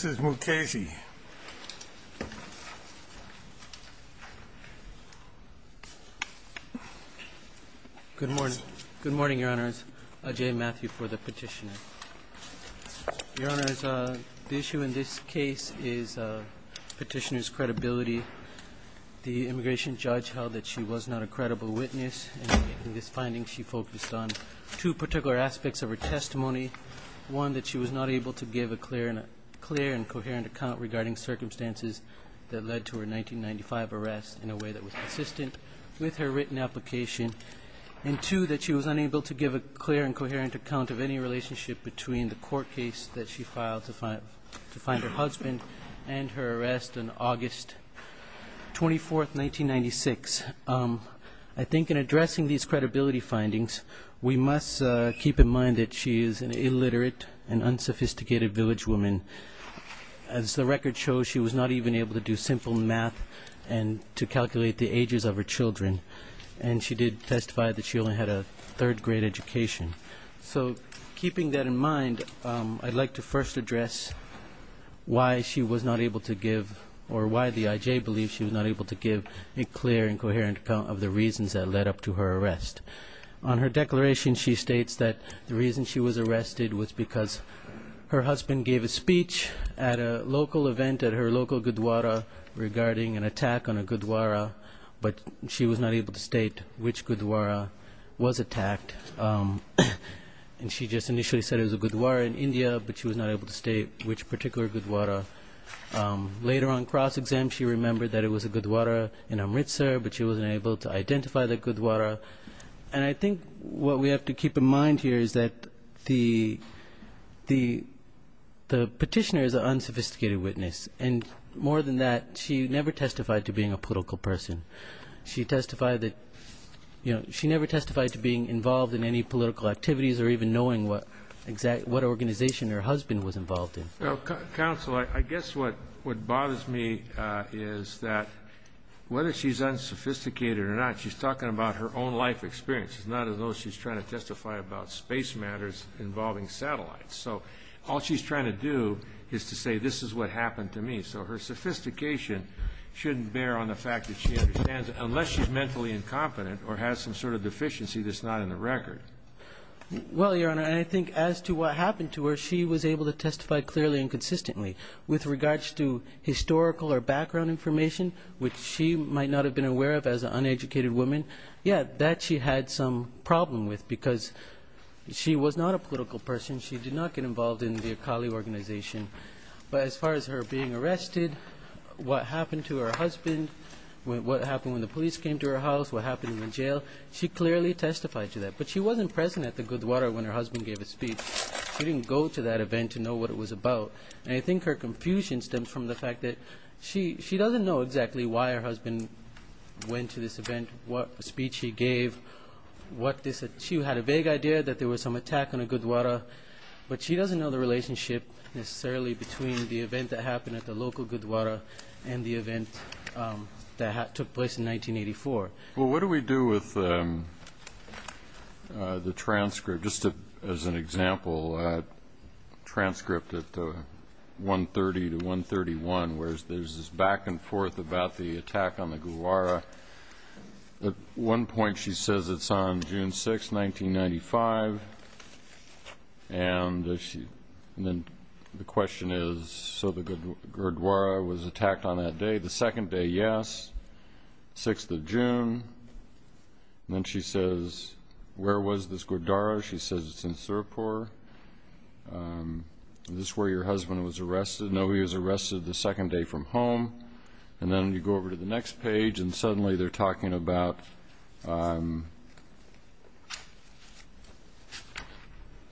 Good morning. Good morning, Your Honors. Ajay Mathew for the Petitioner. Your Honors, the issue in this case is Petitioner's credibility. The immigration judge held that she was not a credible witness, and in this finding she focused on two particular aspects of her testimony. that she was not able to give a clear and coherent account regarding circumstances that led to her 1995 arrest in a way that was consistent with her written application, and two, that she was unable to give a clear and coherent account of any relationship between the court case that she filed to find her husband and her arrest on August 24, 1996. I think in and unsophisticated village woman. As the record shows, she was not even able to do simple math to calculate the ages of her children, and she did testify that she only had a third grade education. So keeping that in mind, I'd like to first address why she was not able to give, or why the IJ believes she was not able to give a clear and coherent account of the reasons that led up to her arrest. On her declaration, she states that the reason she was arrested was because her husband gave a speech at a local event at her local Gurdwara regarding an attack on a Gurdwara, but she was not able to state which Gurdwara was attacked. And she just initially said it was a Gurdwara in India, but she was not able to state which particular Gurdwara. Later on cross-exam, she remembered that it was a Gurdwara in Amritsar, but she wasn't able to identify the Gurdwara. And I think what we have to keep in mind here is that the petitioner is an unsophisticated witness, and more than that, she never testified to being a political person. She testified that, you know, she never testified to being involved in any political activities or even knowing what organization her husband was involved in. Well, counsel, I guess what bothers me is that whether she's unsophisticated or not, she's talking about her own life experiences, not as though she's trying to testify about space matters involving satellites. So all she's trying to do is to say, this is what happened to me. So her sophistication shouldn't bear on the fact that she understands it unless she's mentally incompetent or has some sort of deficiency that's not in the record. Well, Your Honor, I think as to what happened to her, she was able to testify clearly and consistently with regards to historical or background information, which she might not have been aware of as an uneducated woman. Yeah, that she had some problem with because she was not a political person. She did not get involved in the Akali organization. But as far as her being arrested, what happened to her husband, what happened when the police came to her house, what happened in the jail, she clearly testified to that. But she wasn't present at the Gurdwara when her husband gave a speech. She didn't go to that event to know what it was about. And I think her confusion stems from the fact that she doesn't know exactly why her husband went to this event, what speech he gave, what this, she had a vague idea that there was some attack on a Gurdwara. But she doesn't know the relationship necessarily between the event that happened at the local Gurdwara and the event that took place in 1984. Well, what do we do with the transcript, just as an example, a transcript at 1.30 to 1.31, where there's this back and forth about the attack on the Gurdwara. At one point she says it's on June 6, 1995. And then the question is, so the Gurdwara was attacked on that day. The second day, yes. Sixth of June. And then she says, where was this Gurdwara? She says it's in Sarpore. Is this where your husband was arrested? No, he was arrested the second day from home. And then you go over to the next page and suddenly they're talking about,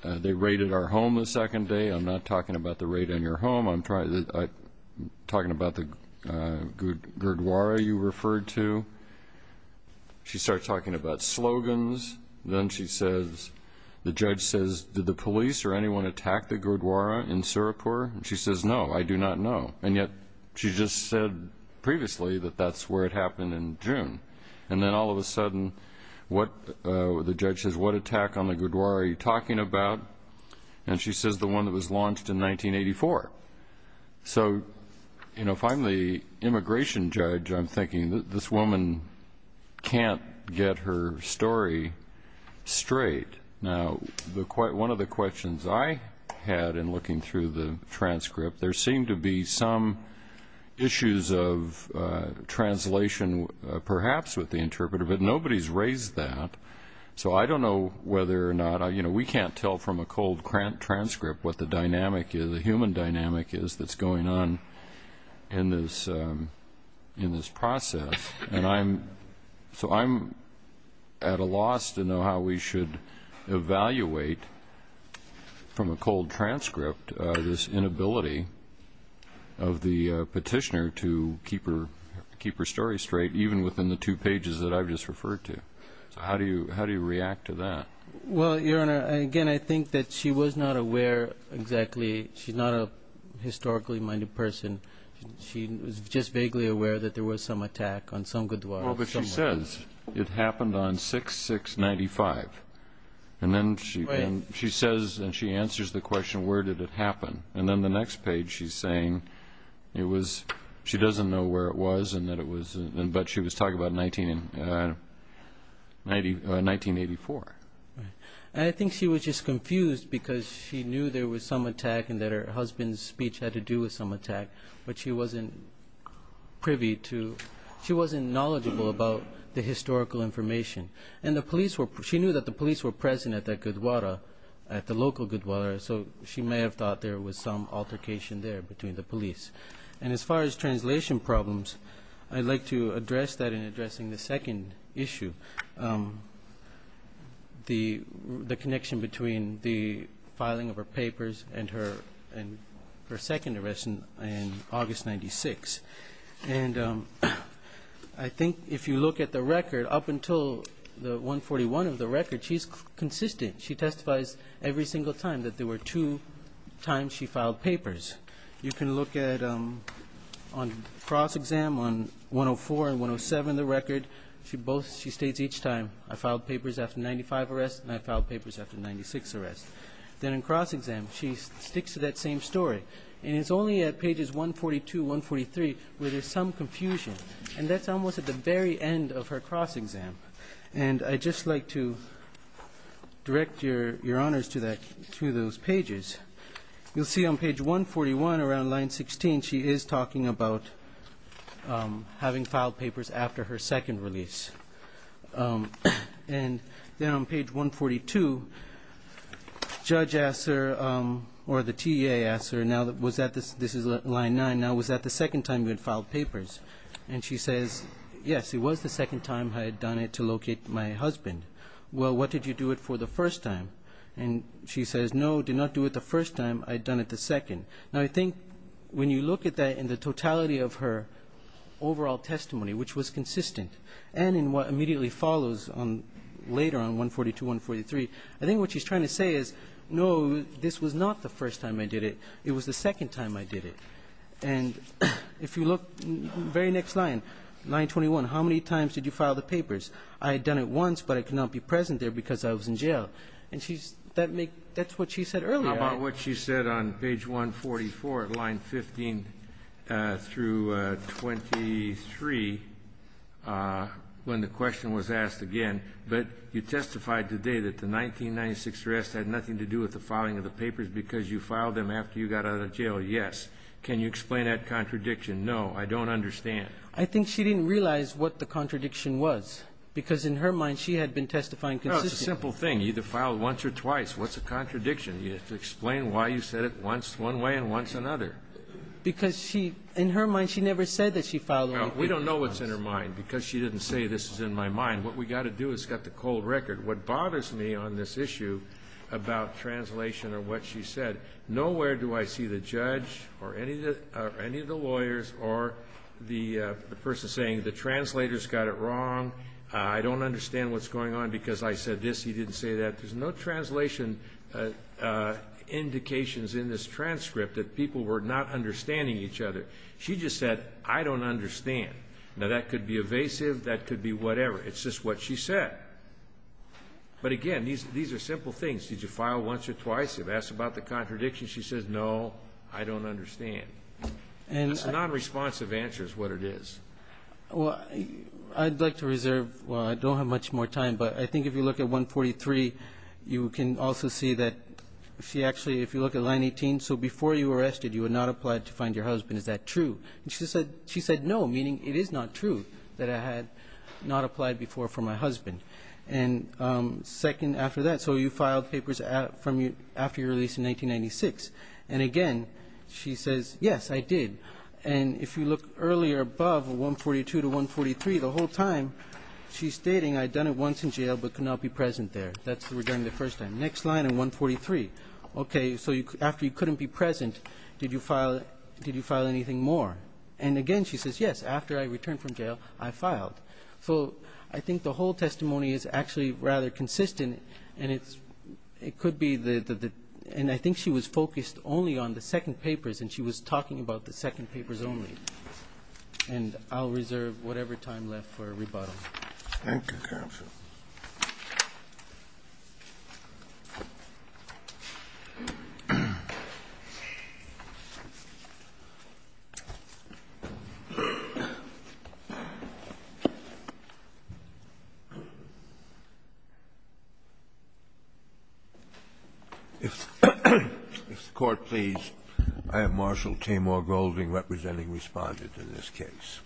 they raided our home the second day. I'm not talking about the raid on your home. I'm talking about the Gurdwara you referred to. She starts talking about slogans. Then she says, the judge says, did the police or anyone attack the Gurdwara in Sarpore? And she says, no, I do not know. And yet she just said previously that that's where it happened in June. And then all of a sudden what, the judge says, what attack on the Gurdwara are you talking about? And she says the one that was launched in 1984. So, you know, if I'm the immigration judge, I'm thinking that this woman can't get her story straight. Now, one of the questions I had in looking through the transcript, there seemed to be some issues of translation perhaps with the interpreter, but nobody's raised that. So I don't know whether or not, you know, we can't tell from a cold transcript what the dynamic is, the human dynamic is that's going on in this process. So I'm at a loss to know how we should evaluate from a cold transcript this inability of the petitioner to keep her story straight, even within the two pages that I've just referred to. So how do you react to that? Well, Your Honor, again, I think that she was not aware exactly. She's not a historically minded person. She was just vaguely aware that there was some attack on some Gurdwara. Well, but she says it happened on 6-6-95. And then she says, and she answers the question, where did it happen? And then the next page she's saying it was, she doesn't know where it was and that it was, but she was talking about 1984. And I think she was just confused because she knew there was some attack and that her husband's speech had to do with some attack, but she wasn't privy to, she wasn't knowledgeable about the historical information. And the police were, she knew that the police were present at that Gurdwara, at the local Gurdwara, so she may have thought there was some altercation there between the two problems. I'd like to address that in addressing the second issue, the connection between the filing of her papers and her second arrest in August 1996. And I think if you look at the record, up until the 141 of the record, she's consistent. She testifies every single time that there were two times she filed papers. You can look at on cross-exam on 104 and 107 of the record. She both, she states each time, I filed papers after 95 arrests and I filed papers after 96 arrests. Then in cross-exam, she sticks to that same story. And it's only at pages 142, 143 where there's some confusion. And that's almost at the very end of her cross-exam. And I'd just like to direct your honors to that, to those pages. You'll see on page 141, around line 16, she is talking about having filed papers after her second release. And then on page 142, judge asks her, or the TA asks her, now was that, this is line 9, now was that the second time you had filed papers? And she says, yes, it was the second time I had done it to locate my husband. Well, what did you do it for the first time? And she says, no, did not do it the first time, I'd done it the second. Now, I think when you look at that in the totality of her overall testimony, which was consistent, and in what immediately follows later on 142, 143, I think what she's trying to say is, no, this was not the first time I did it. It was the second time I did it. And if you look, very next line, line 21, how many times did you file the papers? I had done it once, but I could not be present there because I was in jail. And that's what she said earlier. How about what she said on page 144, line 15 through 23, when the question was asked again, but you testified today that the 1996 arrest had nothing to do with the filing of the papers? She said, yes. Can you explain that contradiction? No, I don't understand. I think she didn't realize what the contradiction was, because in her mind, she had been testifying consistently. No, it's a simple thing. You either filed once or twice. What's the contradiction? You have to explain why you said it once, one way and once another. Because she, in her mind, she never said that she filed the papers once. No, we don't know what's in her mind, because she didn't say this is in my mind. What we've got to do is get the cold record. What bothers me on this issue about translation or what she said, nowhere do I see the judge or any of the lawyers or the person saying the translator's got it wrong. I don't understand what's going on, because I said this. He didn't say that. There's no translation indications in this transcript that people were not understanding each other. She just said, I don't understand. Now, that could be evasive. That could be whatever. It's just what she said. But again, these are simple things. Did you file once or twice? You've asked about the contradiction. She says, no, I don't understand. It's a non-responsive answer is what it is. Well, I'd like to reserve, well, I don't have much more time, but I think if you look at 143, you can also see that she actually, if you look at line 18, so before you were arrested, you had not applied to find your husband. Is that true? She said no, meaning it is not true that I had not applied before for my husband. And second, after that, so you filed papers after you were released in 1996. And again, she says, yes, I did. And if you look earlier above 142 to 143, the whole time she's stating I'd done it once in jail, but could not be present there. That's regarding the first time. Next line in 143. Okay, so after you couldn't be present, did you file anything more? And again, she says, yes, after I returned from jail, I filed. So I think the whole testimony is actually rather consistent and it's, it could be the, and I think she was focused only on the second papers and she was talking about the second papers only. And I'll reserve whatever time left for rebuttal. Thank you counsel. If the Court please, I have Marshal Tamar Golding representing Respondent in this case.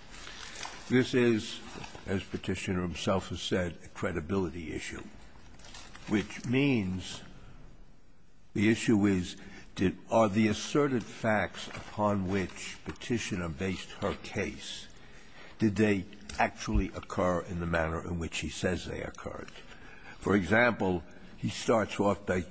This is, as Petitioner himself has said, a credibility issue, which means the issue is, did, are the asserted facts upon which Petitioner based her case, are they actually occur in the manner in which he says they occurred? For example, he starts off by,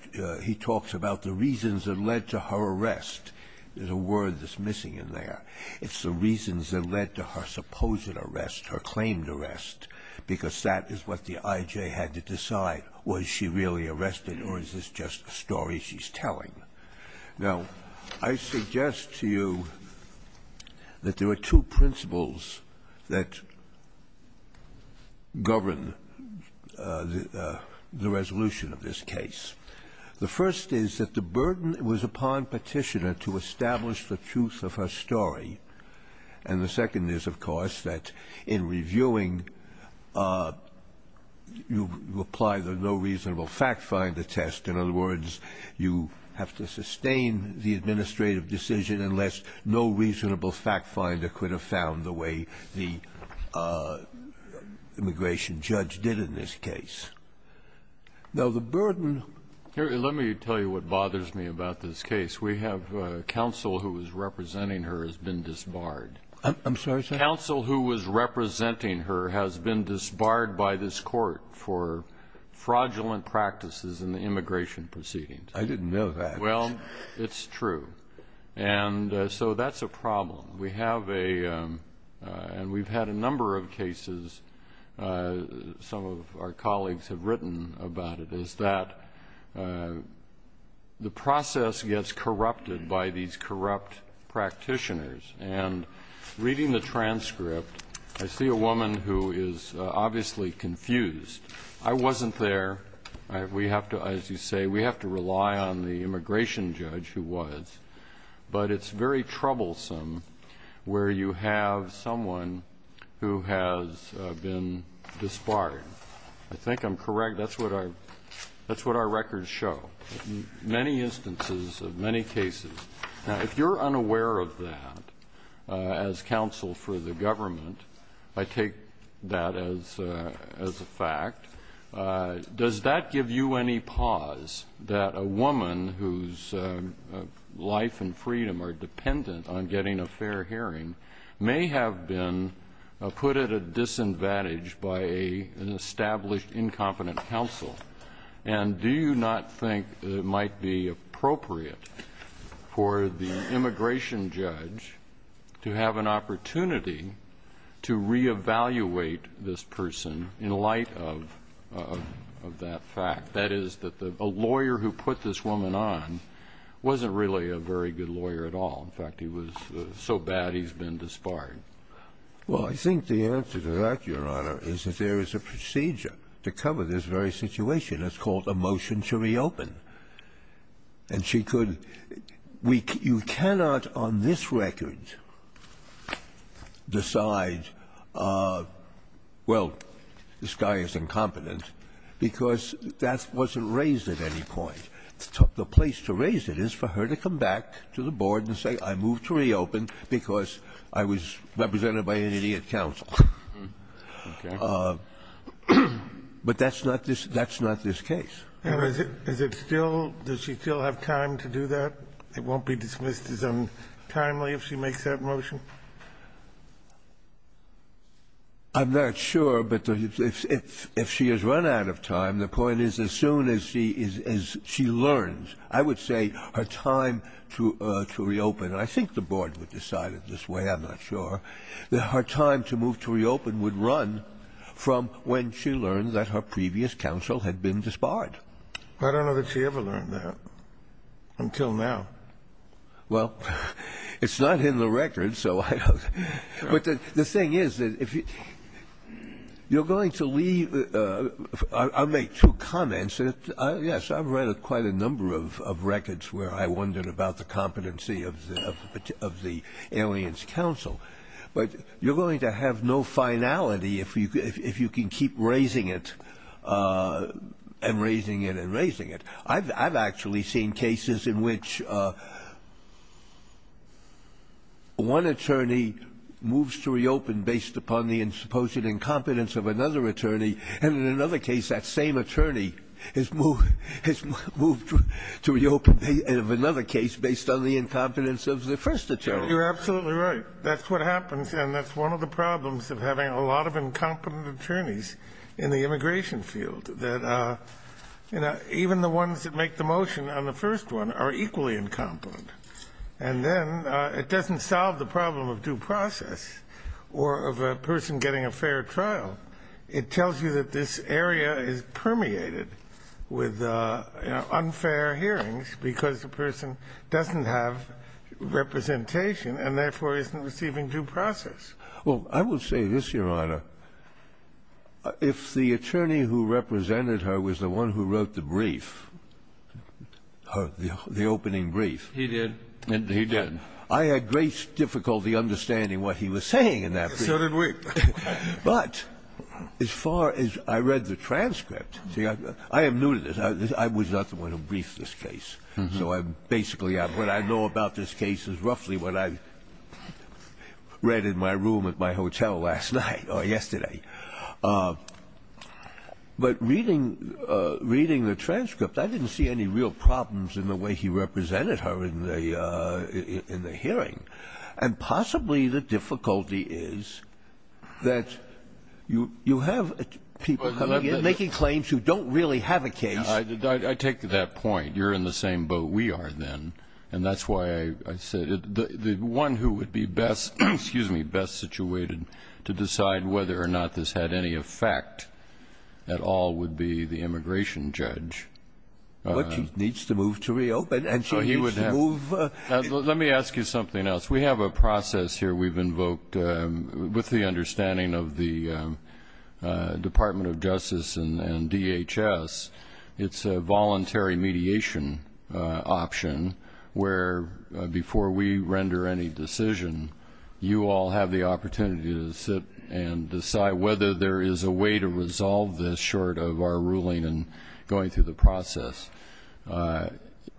he talks about the reasons that led to her arrest. There's a word that's missing in there. It's the reasons that led to her supposed arrest, her claimed arrest, because that is what the I.J. had to decide. Was she really arrested or is this just a story she's telling? Now, I suggest to you that there are two principles that govern the resolution of this case. The first is that the burden was upon Petitioner to establish the truth of her story. And the second is, of course, that in reviewing, you apply the no reasonable fact finder test. In other words, you have to sustain the administrative decision unless no reasonable fact finder could have found the way the immigration judge did in this case. Now, the burden... Here, let me tell you what bothers me about this case. We have counsel who was representing her has been disbarred. I'm sorry, sir? Counsel who was representing her has been disbarred by this Court for fraudulent practices in the immigration proceedings. I didn't know that. Well, it's true. And so that's a problem. We have a, and we've had a number of cases, some of our colleagues have written about it, is that the process gets corrupted by these corrupt practitioners. And reading the transcript, I see a woman who is obviously confused. I wasn't there. We have to, as you say, we have to rely on the immigration judge who was. But it's very troublesome where you have someone who has been disbarred. I think I'm correct. That's what our records show. Many instances of many cases. Now, if you're unaware of that, as counsel for the government, I take that as a fact, does that give you any pause that a woman whose life and freedom are dependent on getting a fair hearing may have been put at a disadvantage by an established incompetent counsel? And do you not think it might be appropriate for the immigration judge to have an opportunity to reevaluate this person in light of that fact? That is, that a lawyer who put this woman on wasn't really a very good lawyer at all. In fact, he was so bad he's been disbarred. Well, I think the answer to that, Your Honor, is that there is a procedure to cover this very situation. It's called a motion to reopen. And she could we you cannot on this record decide, well, this guy is incompetent, because that wasn't raised at any point. The place to raise it is for her to come back to the board and say, I move to reopen because I was represented by an idiot counsel. But that's not this case. And is it still does she still have time to do that? It won't be dismissed as untimely if she makes that motion? I'm not sure, but if she has run out of time, the point is as soon as she learns, I would say her time to reopen, and I think the board would decide it this way, I'm not sure, that her time to move to reopen would run from when she learned that her previous counsel had been disbarred. I don't know that she ever learned that until now. Well, it's not in the record, so I don't know. But the thing is that if you're going to leave I'll make two comments. Yes, I've read quite a number of records where I wondered about the competency of the alien's counsel, but you're going to have no finality if you can keep raising it and raising it and raising it. I've actually seen cases in which one attorney moves to reopen based upon the supposed incompetence of another attorney, and in another case that same attorney has moved to reopen. And in another case based on the incompetence of the first attorney. You're absolutely right. That's what happens, and that's one of the problems of having a lot of incompetent attorneys in the immigration field, that even the ones that make the motion on the first one are equally incompetent. And then it doesn't solve the problem of due process or of a person getting a fair trial. It tells you that this area is permeated with, you know, unfair hearings because the person doesn't have representation and therefore isn't receiving due process. Well, I would say this, Your Honor. If the attorney who represented her was the one who wrote the brief, the opening brief. He did. He did. I had great difficulty understanding what he was saying in that brief. So did we. But as far as I read the transcript, I am new to this. I was not the one who briefed this case. So I basically what I know about this case is roughly what I read in my room at my hotel last night or yesterday. But reading the transcript, I didn't see any real problems in the way he represented her in the hearing. And possibly the difficulty is that you have people making claims who don't really have a case. I take that point. You're in the same boat we are then. And that's why I said the one who would be best, excuse me, best situated to decide whether or not this had any effect at all would be the immigration judge. But he needs to move to reopen. And so he would have. Let me ask you something else. We have a process here we've invoked with the understanding of the Department of Justice and DHS. It's a voluntary mediation option where before we render any decision, you all have the opportunity to sit and decide whether there is a way to resolve this short of our ruling and going through the process.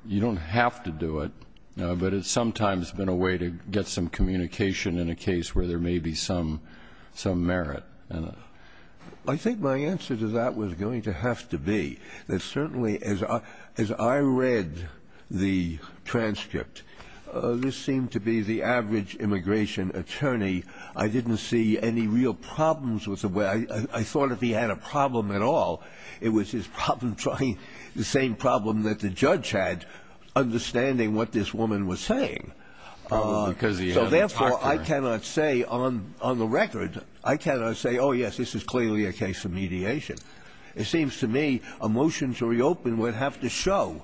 You don't have to do it. But it's sometimes been a way to get some communication in a case where there may be some merit. I think my answer to that was going to have to be that certainly as I read the transcript, this seemed to be the average immigration attorney. I didn't see any real problems with the way. I thought if he had a problem at all, it was his problem trying the same problem that the judge had, understanding what this woman was saying. So therefore, I cannot say on the record, I cannot say, oh, yes, this is clearly a case of mediation. It seems to me a motion to reopen would have to show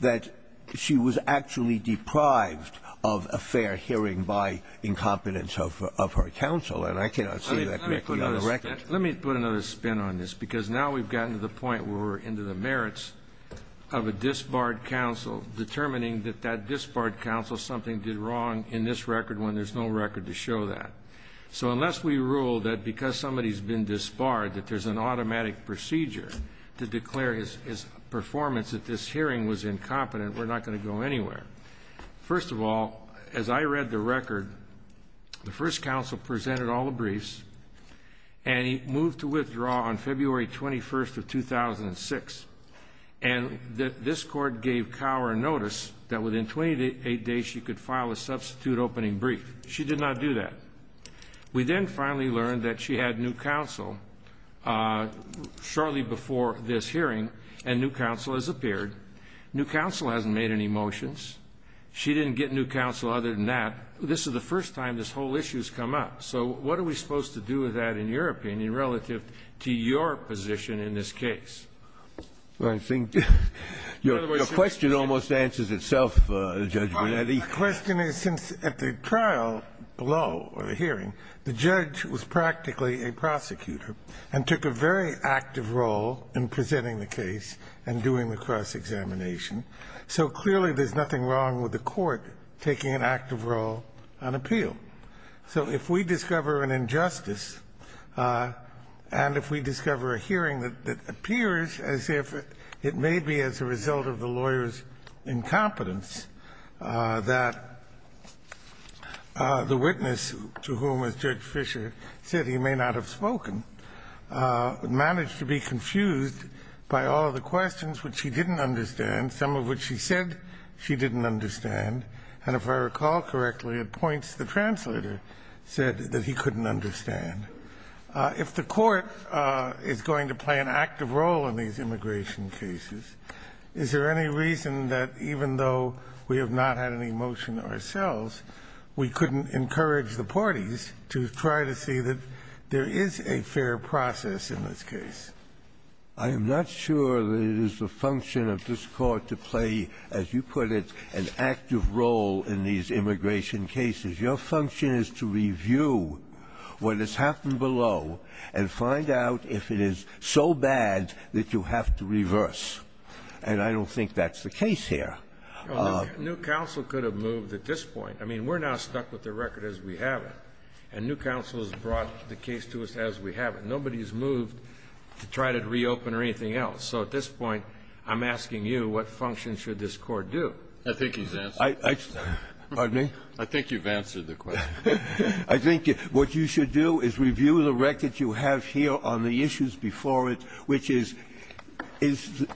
that she was actually deprived of a fair hearing by incompetence of her counsel. And I cannot say that correctly on the record. Let me put another spin on this because now we've gotten to the point where we're into the merits of a disbarred counsel determining that that disbarred counsel something did wrong in this record when there's no record to show that. So unless we rule that because somebody's been disbarred that there's an automatic procedure to declare his performance at this hearing was incompetent, we're not going to go anywhere. First of all, as I read the record, the first counsel presented all the briefs and he moved to withdraw on February 21st of 2006. And this court gave Cower a notice that within 28 days she could file a substitute opening brief. She did not do that. We then finally learned that she had new counsel shortly before this hearing and new counsel has appeared. New counsel hasn't made any motions. She didn't get new counsel other than that. This is the first time this whole issue has come up. So what are we supposed to do with that in your opinion relative to your position in this case? I think your question almost answers itself, Judge Bonetti. The question is, since at the trial below or the hearing, the judge was practically a prosecutor and took a very active role in presenting the case and doing the cross examination, so clearly there's nothing wrong with the court taking an active role in presenting an appeal. So if we discover an injustice and if we discover a hearing that appears as if it may be as a result of the lawyer's incompetence, that the witness to whom, as Judge Fisher said, he may not have spoken, managed to be confused by all the questions which she didn't understand, some of which she said she didn't understand. And if I recall correctly at points, the translator said that he couldn't understand. If the court is going to play an active role in these immigration cases, is there any reason that even though we have not had any motion ourselves, we couldn't encourage the parties to try to see that there is a fair process in this case? I am not sure that it is the function of this Court to play, as you put it, an active role in these immigration cases. Your function is to review what has happened below and find out if it is so bad that you have to reverse. And I don't think that's the case here. New Counsel could have moved at this point. I mean, we're now stuck with the record as we have it. And New Counsel has brought the case to us as we have it. Nobody has moved to try to reopen or anything else. So at this point, I'm asking you, what function should this Court do? I think he's answered. Pardon me? I think you've answered the question. I think what you should do is review the record you have here on the issues before it, which is, is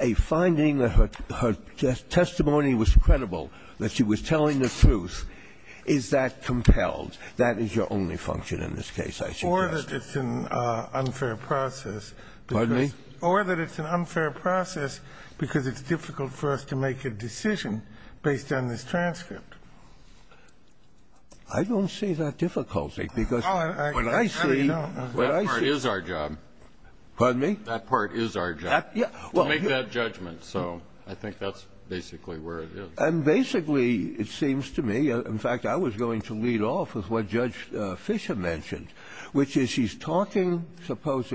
a finding that her testimony was credible, that she was telling the truth, is that compelled? That is your only function in this case, I suggest. Or that it's an unfair process. Pardon me? Or that it's an unfair process because it's difficult for us to make a decision based on this transcript. I don't see that difficulty, because what I see. That part is our job. Pardon me? That part is our job, to make that judgment. So I think that's basically where it is. And basically, it seems to me, in fact, I was going to lead off with what Judge Fisher said, that the trials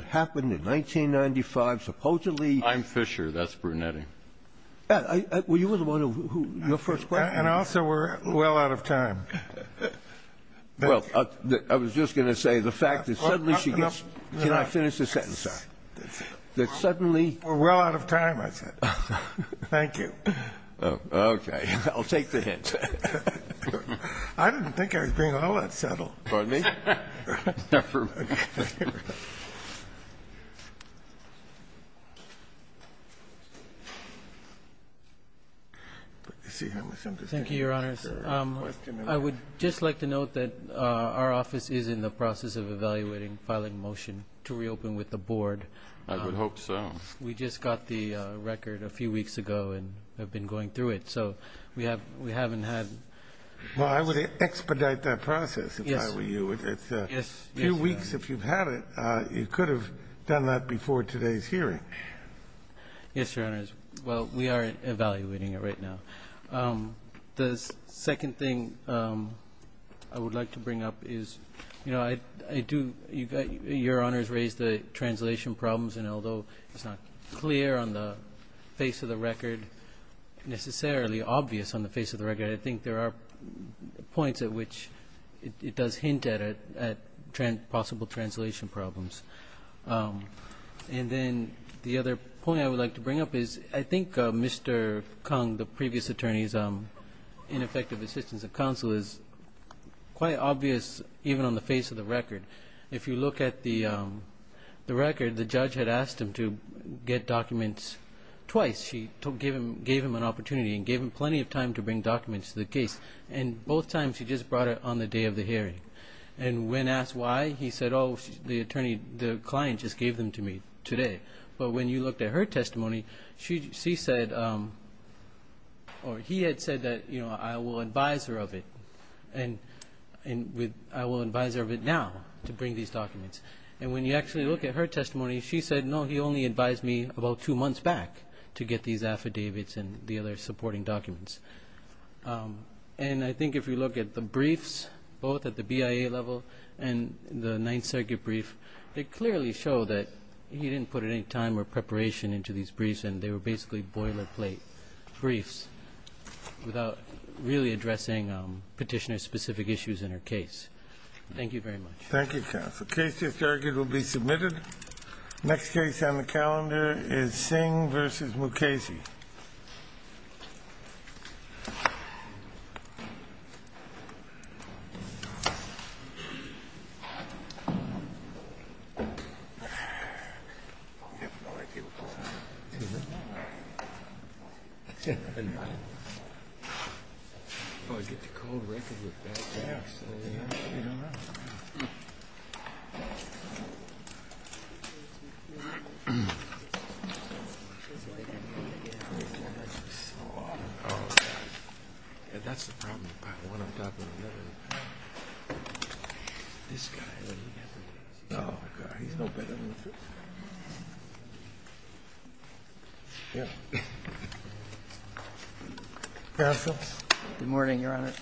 that happened in 1995 supposedly. I'm Fisher. That's Brunetti. Well, you were the one who, your first question. And also, we're well out of time. Well, I was just going to say the fact that suddenly she gets. Can I finish this sentence, sir? That suddenly. We're well out of time, I said. Thank you. Okay. I'll take the hint. I didn't think I was being all that subtle. Pardon me? Never mind. Thank you, Your Honors. I would just like to note that our office is in the process of evaluating filing motion to reopen with the board. I would hope so. We just got the record a few weeks ago and have been going through it. So we haven't had. Well, I would expedite that process. If I were you, it's a few weeks. If you've had it, you could have done that before today's hearing. Yes, Your Honors. Well, we are evaluating it right now. The second thing I would like to bring up is, you know, I do. Your Honors raised the translation problems, and although it's not clear on the face of the record, necessarily obvious on the face of the record, I think there are points at which it does hint at possible translation problems. And then the other point I would like to bring up is I think Mr. Kung, the previous attorney's ineffective assistance of counsel, is quite obvious even on the face of the record. If you look at the record, the judge had asked him to get documents twice. She gave him an opportunity and gave him plenty of time to bring documents to the case, and both times she just brought it on the day of the hearing. And when asked why, he said, oh, the client just gave them to me today. But when you looked at her testimony, she said, or he had said that, you know, I will advise her of it, and I will advise her of it now to bring these documents. And when you actually look at her testimony, she said, no, he only advised me about two months back to get these affidavits and the other supporting documents. And I think if you look at the briefs, both at the BIA level and the Ninth Circuit brief, they clearly show that he didn't put any time or preparation into these briefs, and they were basically boilerplate briefs without really addressing petitioner-specific issues in her case. Thank you very much. Thank you, counsel. Case to the circuit will be submitted. Next case on the calendar is Singh v. Mukasey. Counsel? Good morning, Your Honor.